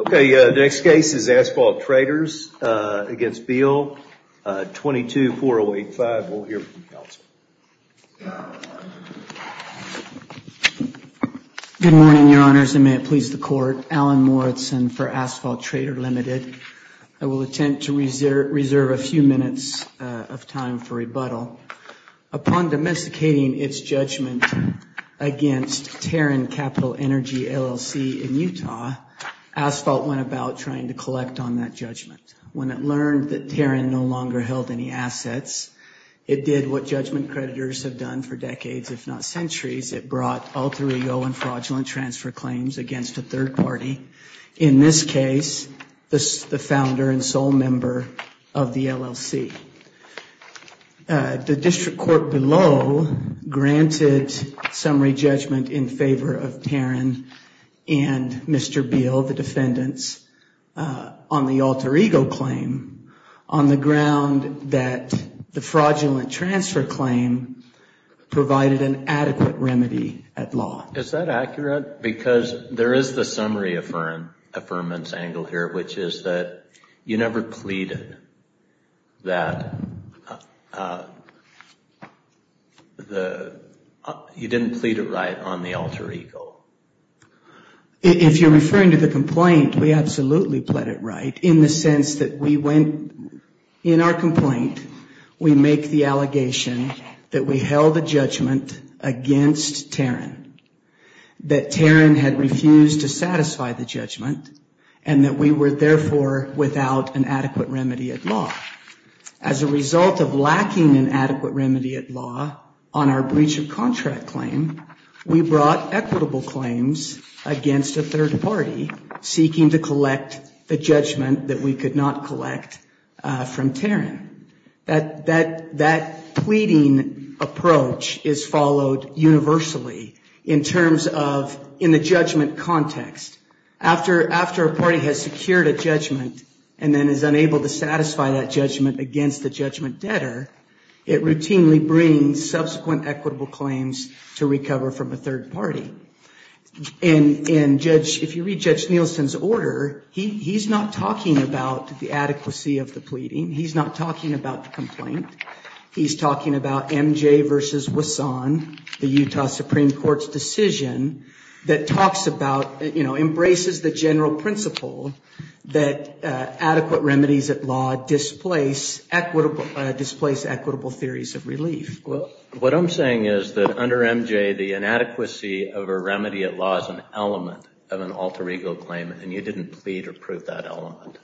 Okay, the next case is Asphalt Traders v. Beall, 22-4085. We'll hear from the counsel. Good morning, Your Honors, and may it please the Court. Alan Morrison for Asphalt Trader Limited. I will attempt to reserve a few minutes of time for rebuttal. Upon domesticating its judgment against Taron Capital Energy LLC in Utah, Asphalt went about trying to collect on that judgment. When it learned that Taron no longer held any assets, it did what judgment creditors have done for decades, if not centuries. It brought alter ego and fraudulent transfer claims against a third party. In this case, the founder and sole member of the LLC. The presented summary judgment in favor of Taron and Mr. Beall, the defendants, on the alter ego claim, on the ground that the fraudulent transfer claim provided an adequate remedy at law. Is that accurate? Because there is the summary affirmance angle here, which is that you never pleaded that, you didn't plead it right on the alter ego. If you're referring to the complaint, we absolutely pled it right in the sense that we went, in our complaint, we make the allegation that we held the judgment against Taron, that Taron had refused to satisfy the judgment, and that we were, therefore, without an adequate remedy at law. As a result of lacking an adequate remedy at law on our breach of contract claim, we brought equitable claims against a third party seeking to collect the judgment that we could not collect from Taron. That pleading approach is followed universally in terms of in the judgment context. After a party has secured a judgment and then is unable to satisfy that judgment against the judgment debtor, it routinely brings subsequent equitable claims to recover from a third party. If you read Judge Nielsen's order, he's not talking about the adequacy of the pleading. He's not talking about the complaint. He's talking about MJ versus Wasson, the Utah Supreme Court's decision that talks about, embraces the general principle that adequate remedies at law displace equitable theories of relief. What I'm saying is that under MJ, the inadequacy of a remedy at law is an element of an alter ego claim, and you didn't plead or prove that element.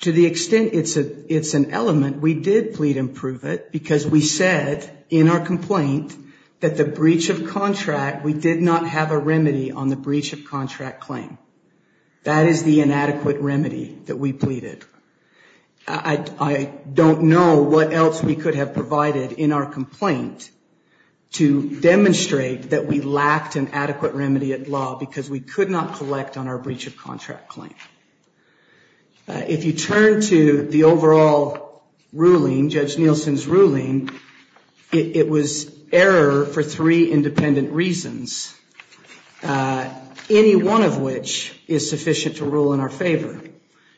To the extent it's an element, we did plead and prove it because we said in our complaint that the breach of contract, we did not have a remedy on the breach of contract claim. That is the inadequate remedy that we pleaded. I don't know what else we could have provided in our complaint to demonstrate that we lacked an adequate remedy at law because we could not collect on our breach of contract claim. If you turn to the overall ruling, Judge Nielsen's ruling, it was error for three independent reasons, any one of which is sufficient to rule in our favor.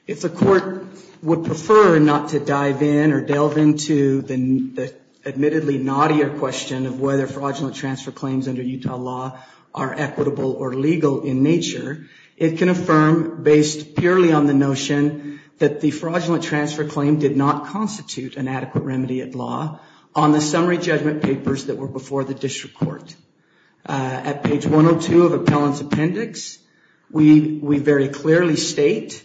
If the court would prefer not to dive in or delve into the admittedly naughtier question of whether fraudulent transfer claims under Utah law are equitable or legal in nature, it can affirm based purely on the notion that the fraudulent transfer claim did not constitute an adequate remedy at law on the summary judgment papers that were before the district court. At page 102 of appellant's appendix, we very clearly state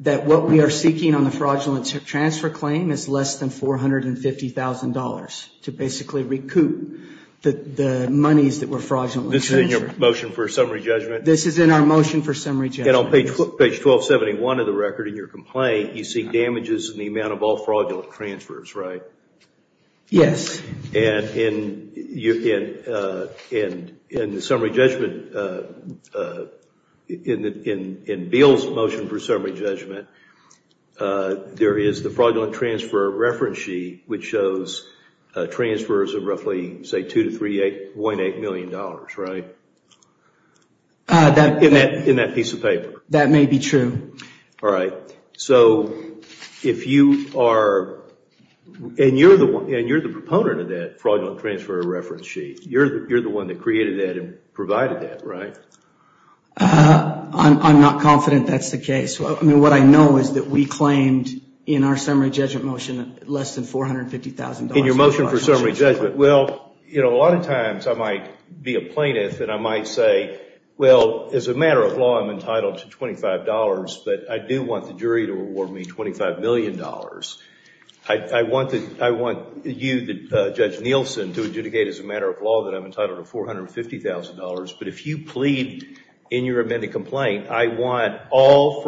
that what we are seeking on the fraudulent transfer claim is less than $450,000 to basically recoup the monies that were fraudulently transferred. This is in your motion for summary judgment? This is in our motion for summary judgment. And on page 1271 of the record in your complaint, you seek damages in the amount of all fraudulent transfers, right? Yes. And in the summary judgment, in Bill's motion for summary judgment, there is the fraudulent transfer reference sheet which shows transfers of roughly, say, $2 to $3.8 million, right? In that piece of paper. That may be true. Alright. So if you are, and you're the proponent of that fraudulent transfer reference sheet, you're the one that created that and provided that, right? I'm not confident that's the case. What I know is that we claimed in our summary judgment motion less than $450,000. In your motion for summary judgment. Well, you know, a lot of times I might be a plaintiff and I might say, well, as a matter of law, I'm entitled to $25, but I do want the jury to reward me $25 million. I want you, Judge Nielsen, to adjudicate as a matter of law that I'm entitled to $450,000, but if you plead in your amended complaint, I want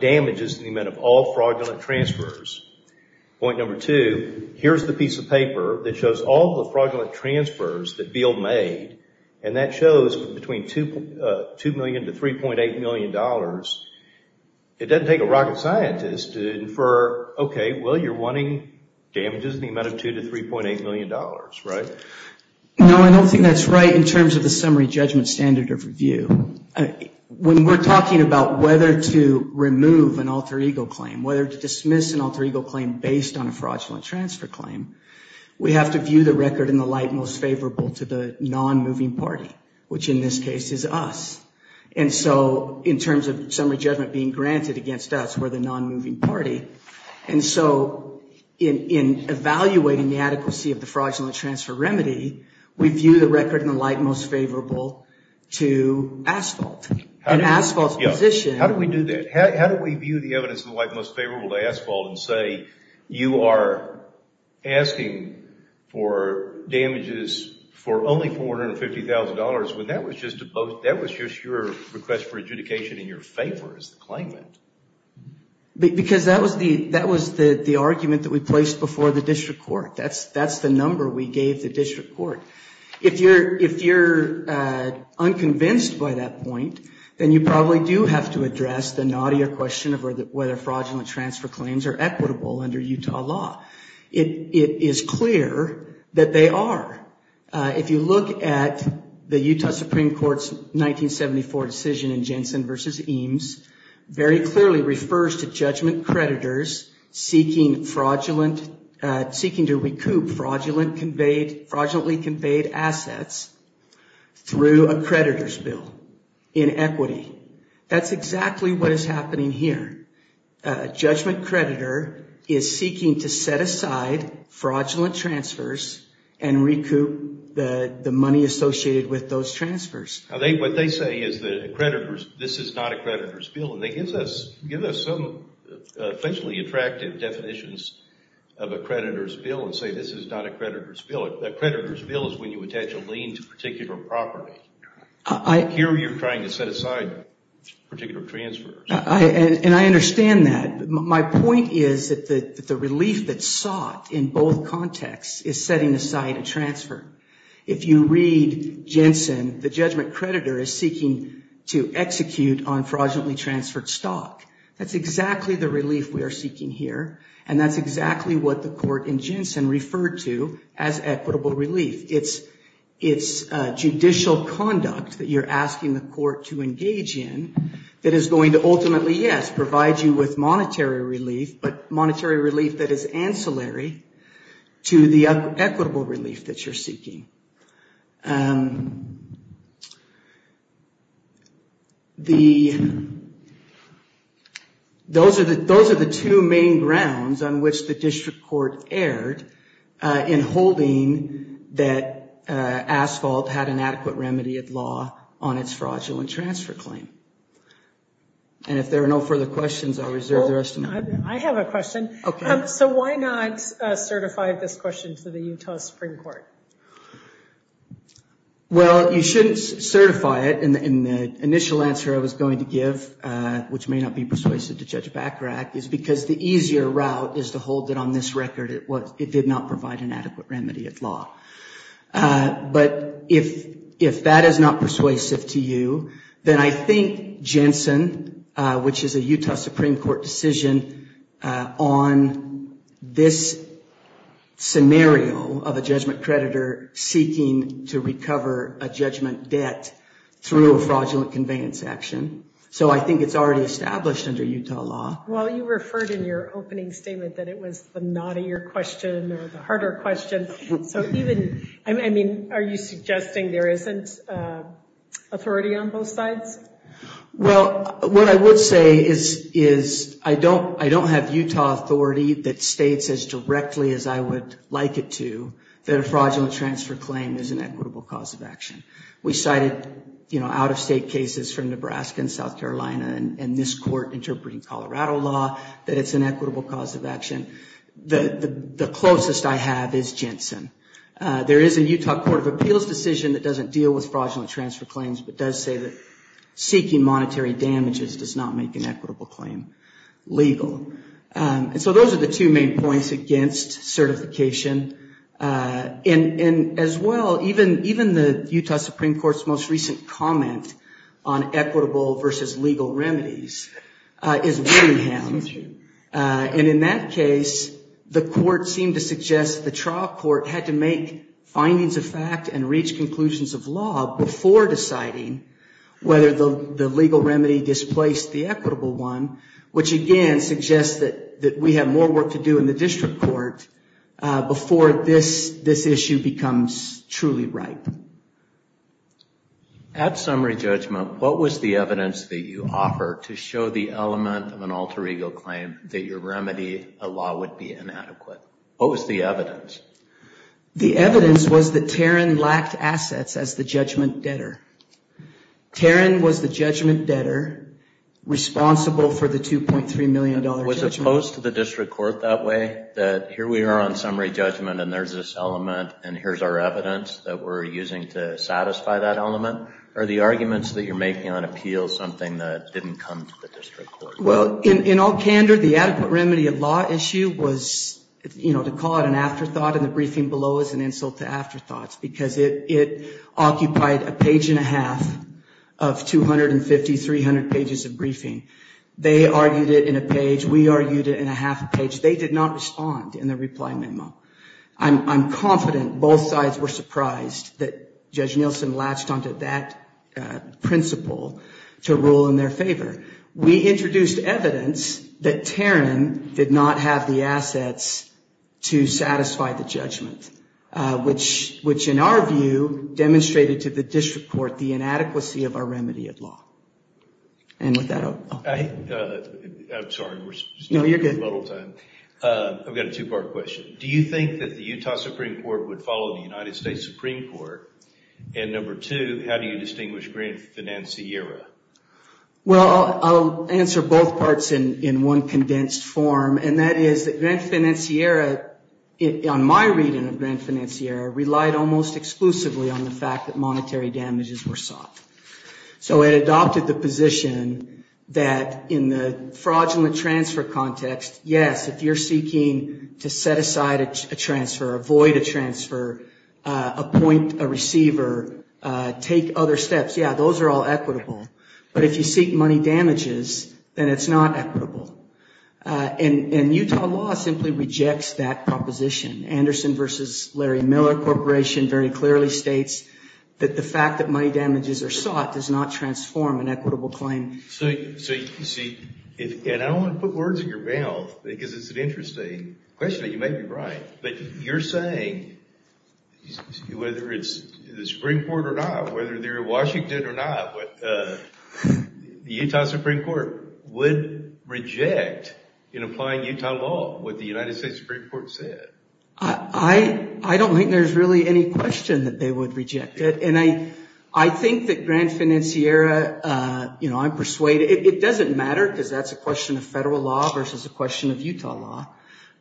damages in the amount of all fraudulent transfers. Point number two, here's the piece of paper that shows all the fraudulent transfers that Beale made, and that shows between $2 million to $3.8 million. It doesn't take a rocket scientist to infer, okay, well, you're wanting damages in the amount of $2 to $3.8 million, right? No, I don't think that's right in terms of the summary judgment standard of review. When we're talking about whether to remove an alter ego claim, whether to dismiss an alter ego claim based on a fraudulent transfer claim, we have to view the record in the light most favorable to the non-moving party, which in this case is us, and so in terms of summary judgment being granted against us, we're the non-moving party, and so in evaluating the adequacy of the fraudulent transfer remedy, we view the record in the light most favorable to asphalt, and asphalt's position... You are asking for damages for only $450,000 when that was just your request for adjudication in your favor as the claimant. Because that was the argument that we placed before the district court. That's the number we gave the district court. If you're unconvinced by that point, then you probably do have to address the naughtier question of whether fraudulent transfer claims are equitable under Utah law. It is clear that they are. If you look at the Utah Supreme Court's 1974 decision in Jensen v. Eames, very clearly refers to judgment creditors seeking to recoup fraudulently conveyed assets through a creditor's bill in equity. That's exactly what is happening here. A judgment creditor is seeking to set aside fraudulent transfers and recoup the money associated with those transfers. What they say is that a creditor's... This is not a creditor's bill, and they give us some officially attractive definitions of a creditor's bill and say this is not a creditor's bill. A creditor's bill is when you attach a lien to a particular property. Here you're trying to set aside particular transfers. I understand that. My point is that the relief that's sought in both contexts is setting aside a transfer. If you read Jensen, the judgment creditor is seeking to execute on fraudulently transferred stock. That's exactly the relief we are seeking here, and that's exactly what the court in Jensen referred to as equitable relief. It's judicial conduct that you're asking the court to engage in that is going to ultimately, yes, provide you with monetary relief, but monetary relief that is ancillary to the equitable relief that you're seeking. Those are the two main grounds on which the district court erred in holding that asphalt had an adequate remedy of law on its fraudulent transfer claim. If there are no further questions, I'll reserve the rest of my time. I have a question. Okay. Why not certify this question to the Utah Supreme Court? Well, you shouldn't certify it, and the initial answer I was going to give, which may not be persuasive to Judge Bachrach, is because the easier route is to hold it on this record it did not provide an adequate remedy of law. If that is not persuasive to you, then I think Jensen, which is a Utah Supreme Court decision on this scenario of a judgment creditor seeking to recover a judgment debt through a fraudulent conveyance action. So I think it's already established under Utah law. Well, you referred in your opening statement that it was the knottier question or the harder question. So even, I mean, are you suggesting there isn't authority on both sides? Well, what I would say is I don't have Utah authority that states as directly as I would like it to that a fraudulent transfer claim is an equitable cause of action. We cited out-of-state cases from Nebraska and South Carolina and this court interpreting Colorado law that it's an equitable cause of action. The closest I have is Jensen. There is a Utah Court of Appeals decision that doesn't deal with fraudulent transfer claims but does say that seeking monetary damages does not make an equitable claim legal. So those are the two main points against certification. And as well, even the Utah Supreme Court's most recent comment on equitable versus legal remedies is Wittingham. And in that case, the court seemed to suggest the trial court had to make findings of fact and reach conclusions of law before deciding whether the legal remedy displaced the equitable one, which again suggests that we have more work to do in the district court before this issue becomes truly ripe. At summary judgment, what was the evidence that you offer to show the element of an alter ego claim that your remedy, a law, would be inadequate? What was the evidence? The evidence was that Tarrin lacked assets as the judgment debtor. Tarrin was the judgment debtor responsible for the $2.3 million judgment. Was it posed to the district court that way, that here we are on summary judgment and there's this element and here's our evidence that we're using to satisfy that element? Are the arguments that you're making on appeal something that didn't come to the district court? Well, in all candor, the adequate remedy of law issue was, you know, to call it an afterthought and the briefing below is an insult to afterthoughts because it occupied a page and a half of 250, 300 pages of briefing. They argued it in a page. We argued it in a half a page. They did not respond in the reply memo. I'm confident both sides were surprised that Judge Nielsen latched onto that principle to rule in their favor. We introduced evidence that Tarrin did not have the assets to satisfy the judgment, which in our view demonstrated to the district court the inadequacy of our remedy of law. And with that, I'll... I'm sorry. No, you're good. I've got a two-part question. Do you think that the Utah Supreme Court would follow the United States Supreme Court? And number two, how do you distinguish grand financiera? Well, I'll answer both parts in one condensed form, and that is that grand financiera, on my reading of grand financiera, relied almost exclusively on the fact that monetary damages were sought. So it adopted the position that in the fraudulent transfer context, yes, if you're seeking to set aside a transfer, avoid a transfer, appoint a receiver, take other steps, yeah, those are all equitable. But if you seek money damages, then it's not equitable. And Utah law simply rejects that proposition. Anderson v. Larry Miller Corporation very clearly states that the fact that money damages are sought does not transform an equitable claim. So you see, and I don't want to put words in your mouth, because it's an interesting question. You may be right. But you're saying, whether it's the Supreme Court or not, whether they're in Washington or not, the Utah Supreme Court would reject in applying Utah law what the United States Supreme Court said. I don't think there's really any question that they would reject it. And I think that grand financiera, I'm persuaded, it doesn't matter, because that's a question of federal law versus a question of Utah law,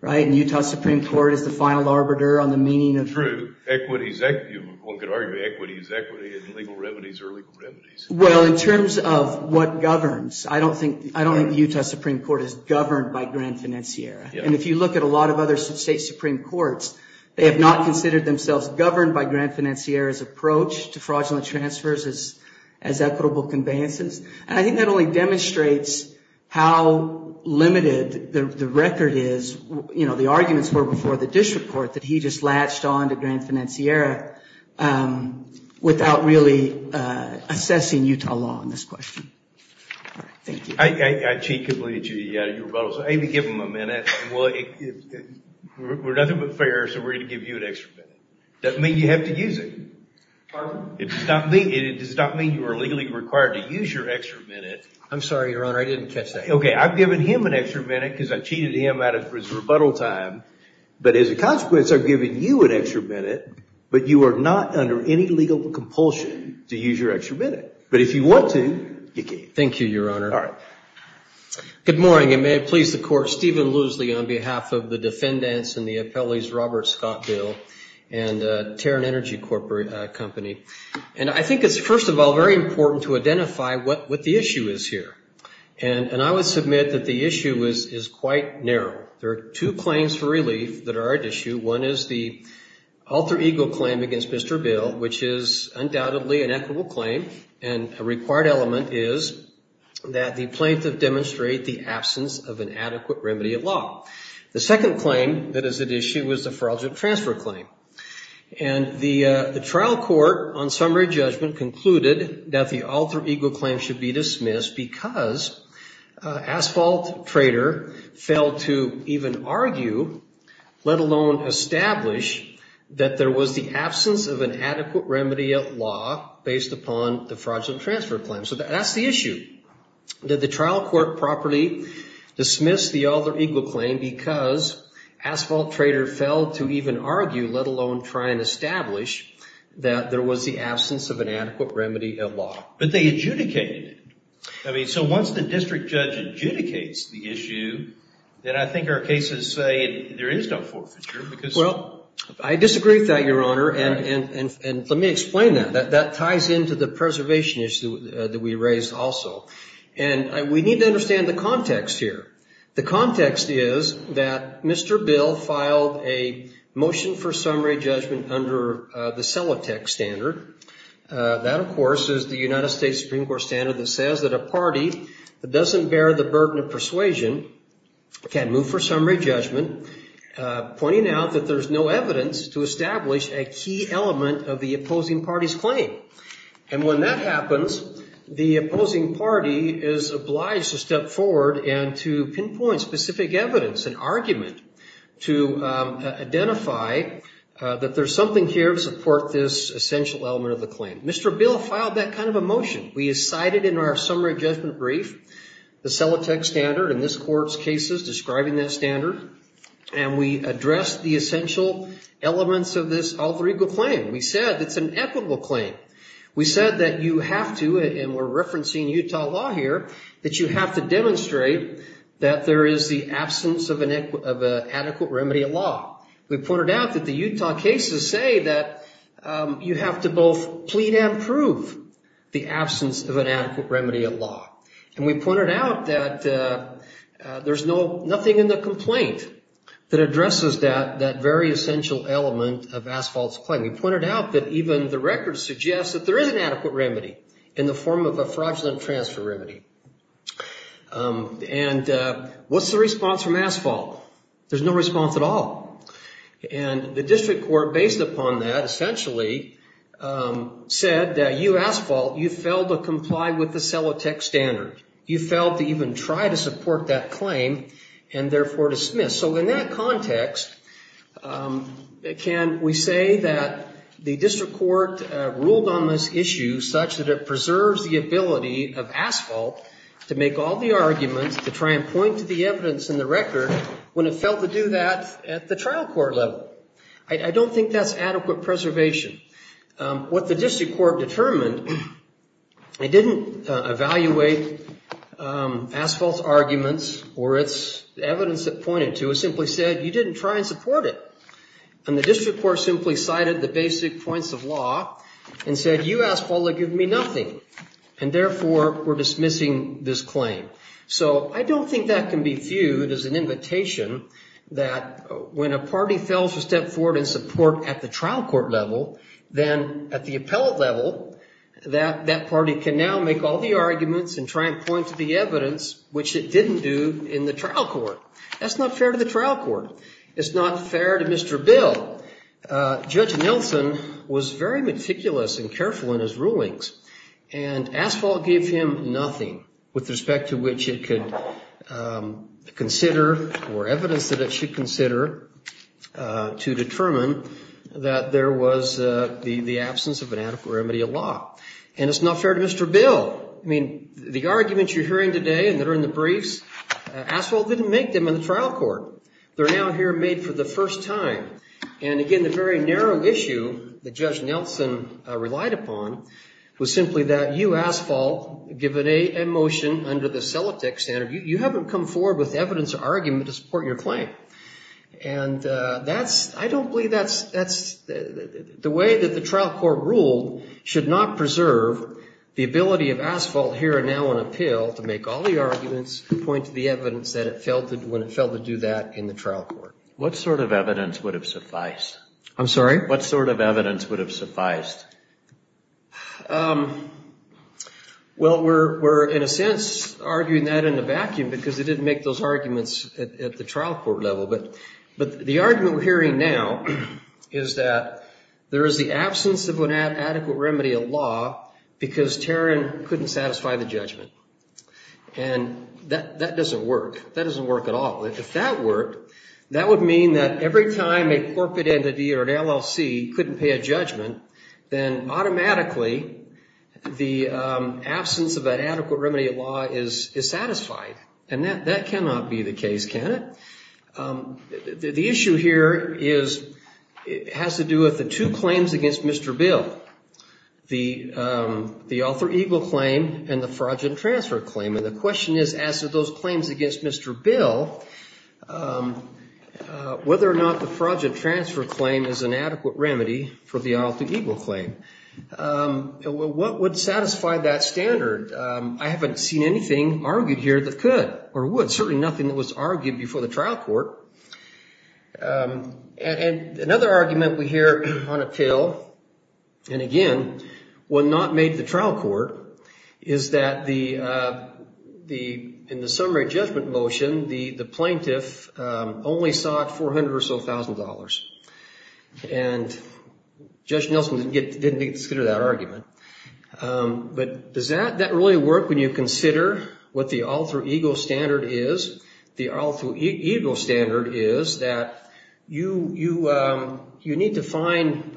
right? And the Utah Supreme Court is the final arbiter on the meaning of truth. True. Equity is equity. One could argue equity is equity in legal remedies or legal remedies. Well, in terms of what governs, I don't think the Utah Supreme Court is governed by grand financiera. And if you look at a lot of other state Supreme Courts, they have not considered themselves governed by grand financiera's approach to fraudulent transfers as equitable conveyances. And I think that only demonstrates how limited the record is, the arguments were before the district court, that he just latched on to grand financiera without really assessing Utah law on this question. All right. Thank you. I cheat completely. You were about to say, give him a minute. Well, we're nothing but fair, so we're going to give you an extra minute. Doesn't mean you have to use it. Pardon? It does not mean you are legally required to use your extra minute. I'm sorry, Your Honor. I didn't catch that. Okay. I've given him an extra minute because I cheated him out of his rebuttal time. But as a consequence, I've given you an extra minute, but you are not under any legal compulsion to use your extra minute. But if you want to, you can. Thank you, Your Honor. All right. Good morning, and may it please the court. Stephen Luesli on behalf of the defendants and the appellees, Robert Scott Bill and Terran Energy Company. And I think it's, first of all, very important to identify what the issue is here. And I would submit that the issue is quite narrow. There are two claims for relief that are at issue. One is the alter ego claim against Mr. Bill, which is undoubtedly an equitable claim. And a required element is that the plaintiff demonstrate the absence of an adequate remedy of law. The second claim that is at issue is the fraudulent transfer claim. And the trial court on summary judgment concluded that the alter ego claim should be dismissed because asphalt trader failed to even argue, let alone establish, that there was the absence of an adequate remedy of law based upon the fraudulent transfer claim. So that's the issue. Did the trial court properly dismiss the alter ego claim because asphalt trader failed to even argue, let alone try and establish, that there was the absence of an adequate remedy of law? But they adjudicated it. I mean, so once the district judge adjudicates the issue, then I think our cases say there is no forfeiture because... Well, I disagree with that, Your Honor. And let me explain that. That ties into the preservation issue that we raised also. And we need to understand the context here. The context is that Mr. Bill filed a motion for summary judgment under the Celotex standard. That, of course, is the United States Supreme Court standard that says that a party that doesn't bear the burden of persuasion can move for summary judgment, pointing out that there's no evidence to establish a key element of the opposing party's claim. And when that happens, the opposing party is obliged to step forward and to pinpoint specific evidence, an argument, to identify that there's something here to support this essential element of the claim. Mr. Bill filed that kind of a motion. We cited in our summary judgment brief the Celotex standard in this court's cases describing that standard, and we addressed the essential elements of this alter ego claim. We said it's an equitable claim. We said that you have to, and we're referencing Utah law here, that you have to demonstrate that there is the absence of an adequate remedy of law. We pointed out that the Utah cases say that you have to both plead and prove the absence of an adequate remedy of law. And we pointed out that there's nothing in the complaint that addresses that very essential element of Asphalt's claim. We pointed out that even the record suggests that there is an adequate remedy in the form of a fraudulent transfer remedy. And what's the response from Asphalt? There's no response at all. And the district court, based upon that essentially, said that you Asphalt, you failed to comply with the Celotex standard. You failed to even try to support that claim and therefore dismiss. So in that context, can we say that the district court ruled on this issue such that it preserves the ability of Asphalt to make all the arguments to try and point to the evidence in the record when it failed to do that at the trial court level? I don't think that's adequate preservation. What the district court determined, it didn't evaluate Asphalt's arguments or its evidence that pointed to it. It simply said, you didn't try and support it. And the district court simply cited the basic points of law and said, you Asphalt have given me nothing. And therefore, we're dismissing this claim. So I don't think that can be viewed as an invitation that when a party fails to step forward and support at the trial court level, then at the appellate level, that that party can now make all the arguments and try and point to the evidence, which it didn't do in the trial court. That's not fair to the trial court. It's not fair to Mr. Bill. Judge Nelson was very meticulous and careful in his rulings. And Asphalt gave him nothing with respect to which it could consider or evidence that it should consider to determine that there was the absence of an adequate remedy of law. And it's not fair to Mr. Bill. I mean, the arguments you're hearing today and that are in the briefs, Asphalt didn't make them in the trial court. They're now here made for the first time. And again, the very narrow issue that Judge Nelson relied upon was simply that you Asphalt given a motion under the Celotek standard, you haven't come forward with evidence or argument to support your claim. And that's, I don't believe that's, that's the way that the trial court ruled should not preserve the ability of Asphalt here and now on appeal to make all the arguments point to the evidence that it failed to, when it failed to do that in the trial court. What sort of evidence would have sufficed? I'm sorry? What sort of evidence would have sufficed? Well, we're, we're in a sense arguing that in the vacuum because it didn't make those arguments at the trial court level. But, but the argument we're hearing now is that there is the absence of an adequate remedy of law because Tarrant couldn't satisfy the judgment. And that, that doesn't work. That doesn't work at all. If that worked, that would mean that every time a corporate entity or an LLC couldn't pay a judgment, then automatically the absence of an adequate remedy of law is, is satisfied. And that, that cannot be the case, can it? The issue here is, it has to do with the two claims against Mr. Bill, the Arthur Eagle claim and the fraudulent transfer claim. And the question is, as to those claims against Mr. Bill, whether or not the fraudulent transfer claim is an adequate remedy for the Arthur Eagle claim. What would satisfy that standard? I haven't seen anything argued here that could or would, certainly nothing that was argued before the trial court. And another argument we hear on a tail, and again, will not make the trial court, is that the, the, in the summary judgment motion, the, the plaintiff only sought 400 or so thousand dollars and Judge Nelson didn't get, didn't consider that argument. But does that, that really work when you consider what the Arthur Eagle standard is? The Arthur Eagle standard is that you, you, you need to find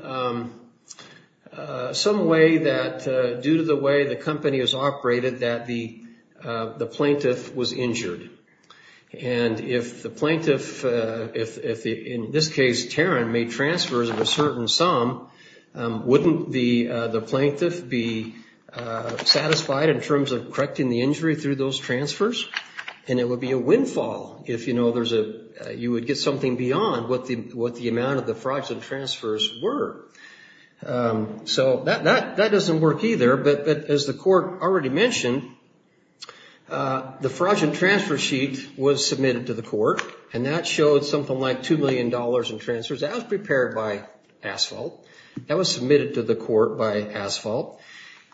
some way that due to the way the company is operated, that the, the plaintiff was injured. And if the plaintiff, if, if the, in this case, Taron made transfers of a certain sum, wouldn't the, the plaintiff be satisfied in terms of correcting the injury through those transfers? And it would be a windfall if, you know, there's a, you would get something beyond what the, what the amount of the fraudulent transfers were. So that, that, that doesn't work either, but, but as the court already mentioned, the fraudulent transfer sheet was submitted to the court and that showed something like $2 million in transfers as prepared by Asphalt. That was submitted to the court by Asphalt.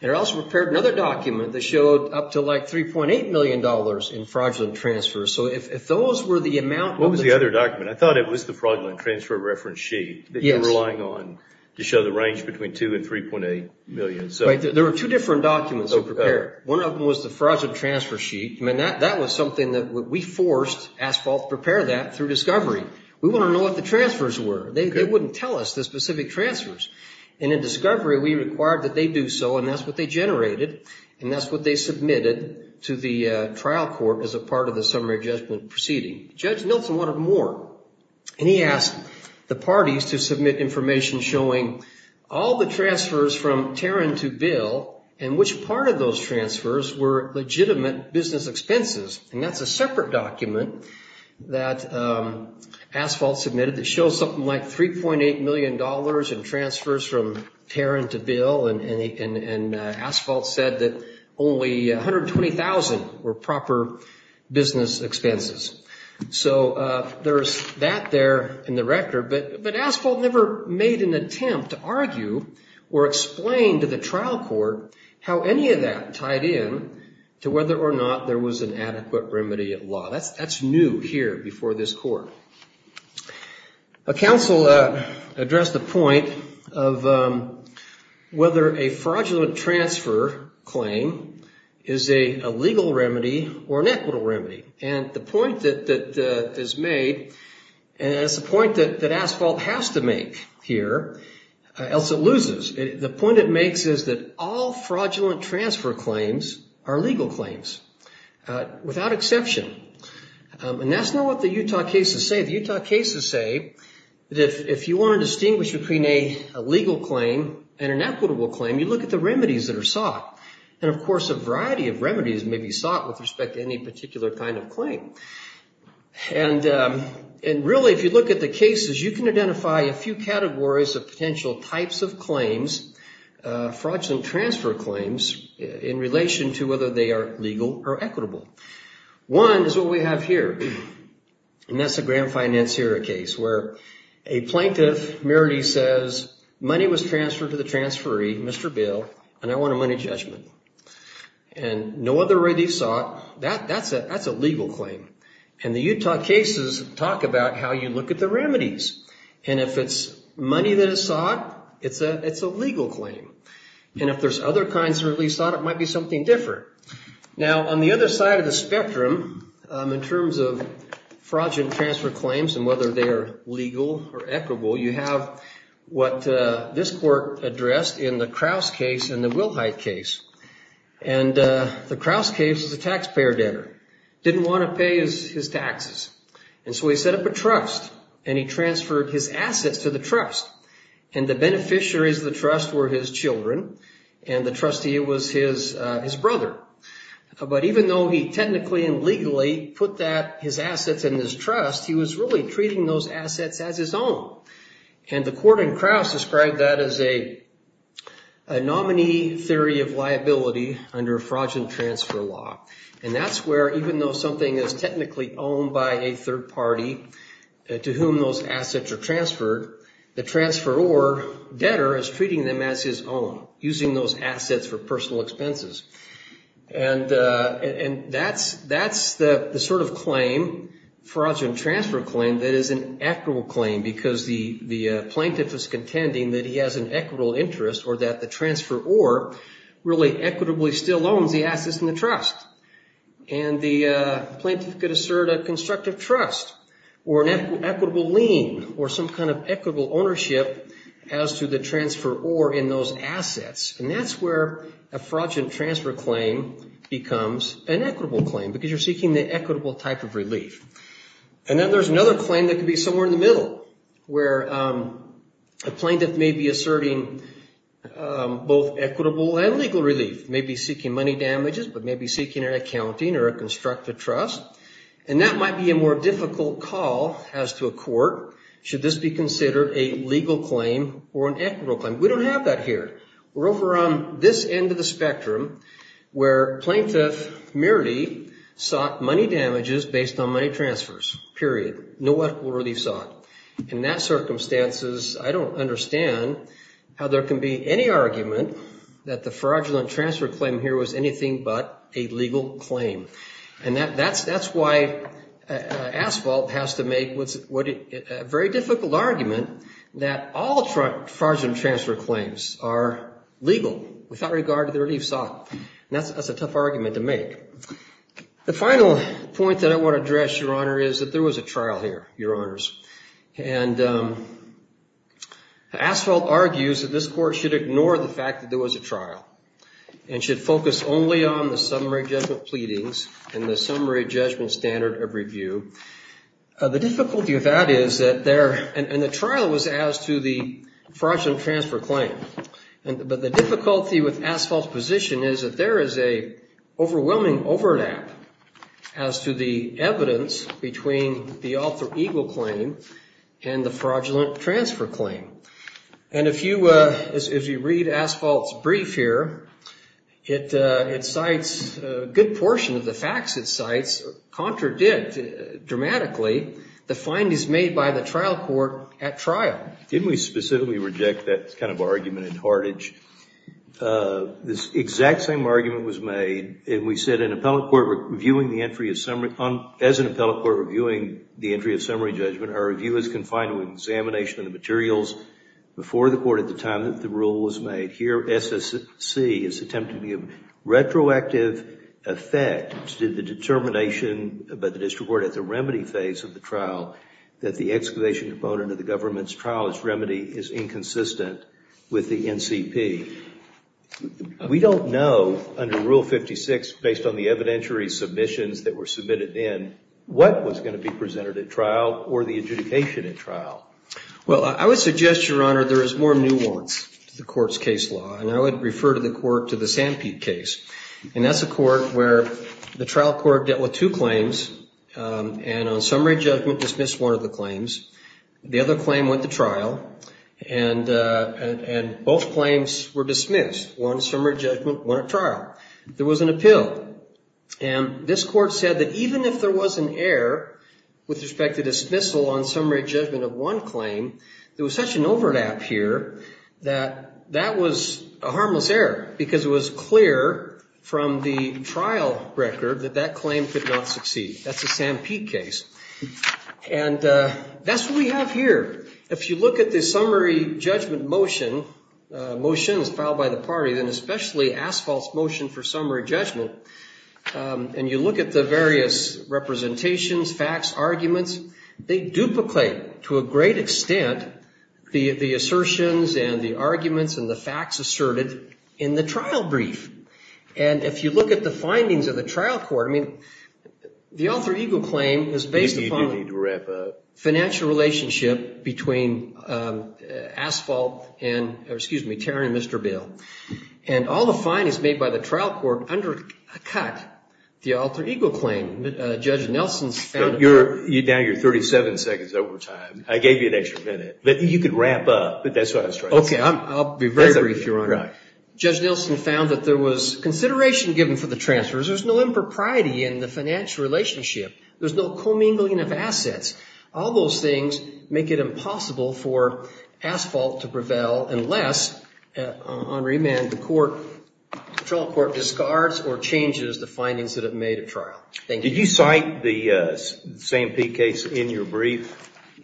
And it also prepared another document that showed up to like $3.8 million in fraudulent transfers. So if, if those were the amount of the... What was the other document? I thought it was the fraudulent transfer reference sheet that you were relying on to show the range between 2 and 3.8 million. So... Right. There were two different documents to prepare. One of them was the fraudulent transfer sheet and that, that was something that we forced Asphalt to prepare that through discovery. We want to know what the transfers were. They, they wouldn't tell us the specific transfers. And in discovery, we required that they do so and that's what they generated and that's what they submitted to the trial court as a part of the summary judgment proceeding. Judge Milton wanted more and he asked the parties to submit information showing all the transfers from Taryn to Bill and which part of those transfers were legitimate business expenses. And that's a separate document that Asphalt submitted that shows something like $3.8 million in transfers from Taryn to Bill and Asphalt said that only 120,000 were proper business expenses. So there's that there in the record, but Asphalt never made an attempt to argue or explain to the trial court how any of that tied in to whether or not there was an adequate remedy at law. That's, that's new here before this court. A counsel addressed the point of whether a fraudulent transfer claim is a legal remedy or an equitable remedy. And the point that is made, and it's a point that Asphalt has to make here, else it loses. The point it makes is that all fraudulent transfer claims are legal claims without exception. And that's not what the Utah cases say. The Utah cases say that if you want to distinguish between a legal claim and an equitable claim, you look at the remedies that are sought. And of course, a variety of remedies may be sought with respect to any particular kind of claim. And really, if you look at the cases, you can identify a few categories of potential types of claims, fraudulent transfer claims, in relation to whether they are legal or equitable. One is what we have here, and that's a grand financier case where a plaintiff merely says, money was transferred to the transferee, Mr. Bill, and I want a money judgment. And no other way they've sought, that's a legal claim. And the Utah cases talk about how you look at the remedies. And if it's money that is sought, it's a legal claim. And if there's other kinds of remedies sought, it might be something different. Now, on the other side of the spectrum, in terms of fraudulent transfer claims and whether they are legal or equitable, you have what this court addressed in the Kraus case and the Wilhite case. And the Kraus case is a taxpayer debtor, didn't want to pay his taxes. And so he set up a trust, and he transferred his assets to the trust. And the beneficiaries of the trust were his children, and the trustee was his brother. But even though he technically and legally put that, his assets and his trust, he was really treating those assets as his own. And the court in Kraus described that as a nominee theory of liability under fraudulent transfer law. And that's where, even though something is technically owned by a third party to whom those assets are transferred, the transferor debtor is treating them as his own, using those assets for personal expenses. And that's the sort of claim, fraudulent transfer claim, that is an equitable claim because the plaintiff is contending that he has an equitable interest or that the transferor really equitably still owns the assets in the trust. And the plaintiff could assert a constructive trust or an equitable lien or some kind of equitable ownership as to the transferor in those assets. And that's where a fraudulent transfer claim becomes an equitable claim because you're seeking the equitable type of relief. And then there's another claim that could be somewhere in the middle where a plaintiff may be asserting both equitable and legal relief, may be seeking money damages, but may be seeking an accounting or a constructive trust. And that might be a more difficult call as to a court, should this be considered a legal claim or an equitable claim? We don't have that here. We're over on this end of the spectrum where plaintiff merely sought money damages based on money transfers, period. No other order of these sought. In that circumstances, I don't understand how there can be any argument that the plaintiff sought a legal claim. And that's why Asphalt has to make a very difficult argument that all fraudulent transfer claims are legal without regard to the relief sought. And that's a tough argument to make. The final point that I want to address, Your Honor, is that there was a trial here, Your Honors. And Asphalt argues that this court should ignore the fact that there was a trial and should focus only on the summary judgment pleadings and the summary judgment standard of review. The difficulty of that is that there, and the trial was as to the fraudulent transfer claim, but the difficulty with Asphalt's position is that there is a overwhelming overlap as to the evidence between the alter ego claim and the fraudulent transfer claim. And if you read Asphalt's brief here, it cites a good portion of the facts it cites contradict dramatically the findings made by the trial court at trial. Didn't we specifically reject that kind of argument in Hartage? This exact same argument was made, and we said, as an appellate court reviewing the materials before the court at the time that the rule was made. Here, SSC is attempting to give a retroactive effect to the determination by the district court at the remedy phase of the trial that the excavation component of the government's trial as remedy is inconsistent with the NCP. We don't know under Rule 56, based on the evidentiary submissions that were submitted in, what was going to be presented at trial or the adjudication at trial. Well, I would suggest, Your Honor, there is more nuance to the court's case law. And I would refer to the court, to the Sanpete case, and that's a court where the trial court dealt with two claims and on summary judgment dismissed one of the claims. The other claim went to trial and both claims were dismissed. One summary judgment, one at trial. There was an appeal, and this court said that even if there was an error with respect to dismissal on summary judgment of one claim, there was such an overlap here that that was a harmless error because it was clear from the trial record that that claim could not succeed. That's the Sanpete case. And that's what we have here. If you look at the summary judgment motion, a motion that's filed by the party, then especially asphalt's motion for summary judgment, and you look at the various representations, facts, arguments, they duplicate to a great extent the assertions and the arguments and the facts asserted in the trial brief. And if you look at the findings of the trial court, I mean, the Alter Ego claim is based upon financial relationship between asphalt and, or excuse me, Taron and Mr. And all the findings made by the trial court undercut the Alter Ego claim. Judge Nelson's found that there was consideration given for the transfers. There's no impropriety in the financial relationship. There's no commingling of assets. All those things make it impossible for asphalt to prevail unless, on remand, the court, the trial court discards or changes the findings that have made a trial. Thank you. Did you cite the Sanpete case in your brief?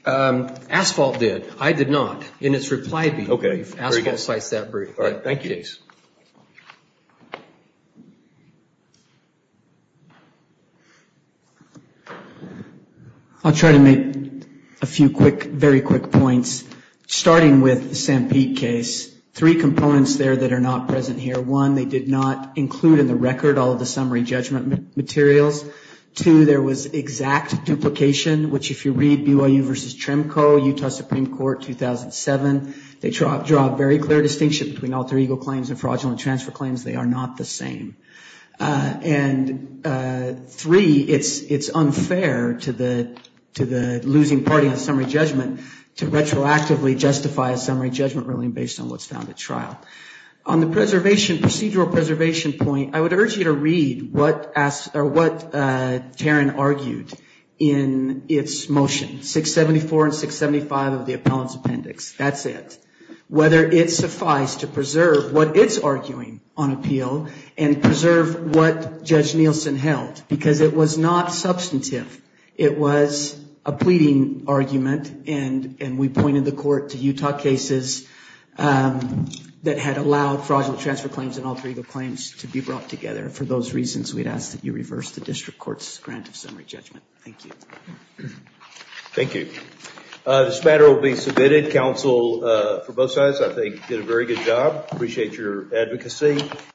Asphalt did. I did not. In its reply brief, asphalt cites that brief. All right. Thank you. The Sanpete case. I'll try to make a few quick, very quick points. Starting with the Sanpete case, three components there that are not present here. One, they did not include in the record all of the summary judgment materials. Two, there was exact duplication, which if you read BYU v. Trimco, Utah Supreme Court, 2007, they draw a very clear distinction between trial-through-egal claims and fraudulent transfer claims. They are not the same. And three, it's unfair to the losing party on summary judgment to retroactively justify a summary judgment ruling based on what's found at trial. On the procedural preservation point, I would urge you to read what Taryn argued in its motion, 674 and 675 of the appellant's appendix. That's it. Whether it suffice to preserve what it's arguing on appeal and preserve what Judge Nielsen held, because it was not substantive. It was a pleading argument and we pointed the court to Utah cases that had allowed fraudulent transfer claims and alter ego claims to be brought together. For those reasons, we'd ask that you reverse the district court's grant of summary judgment. Thank you. Thank you. This matter will be submitted. Counsel for both sides, I think, did a very good job. Appreciate your advocacy.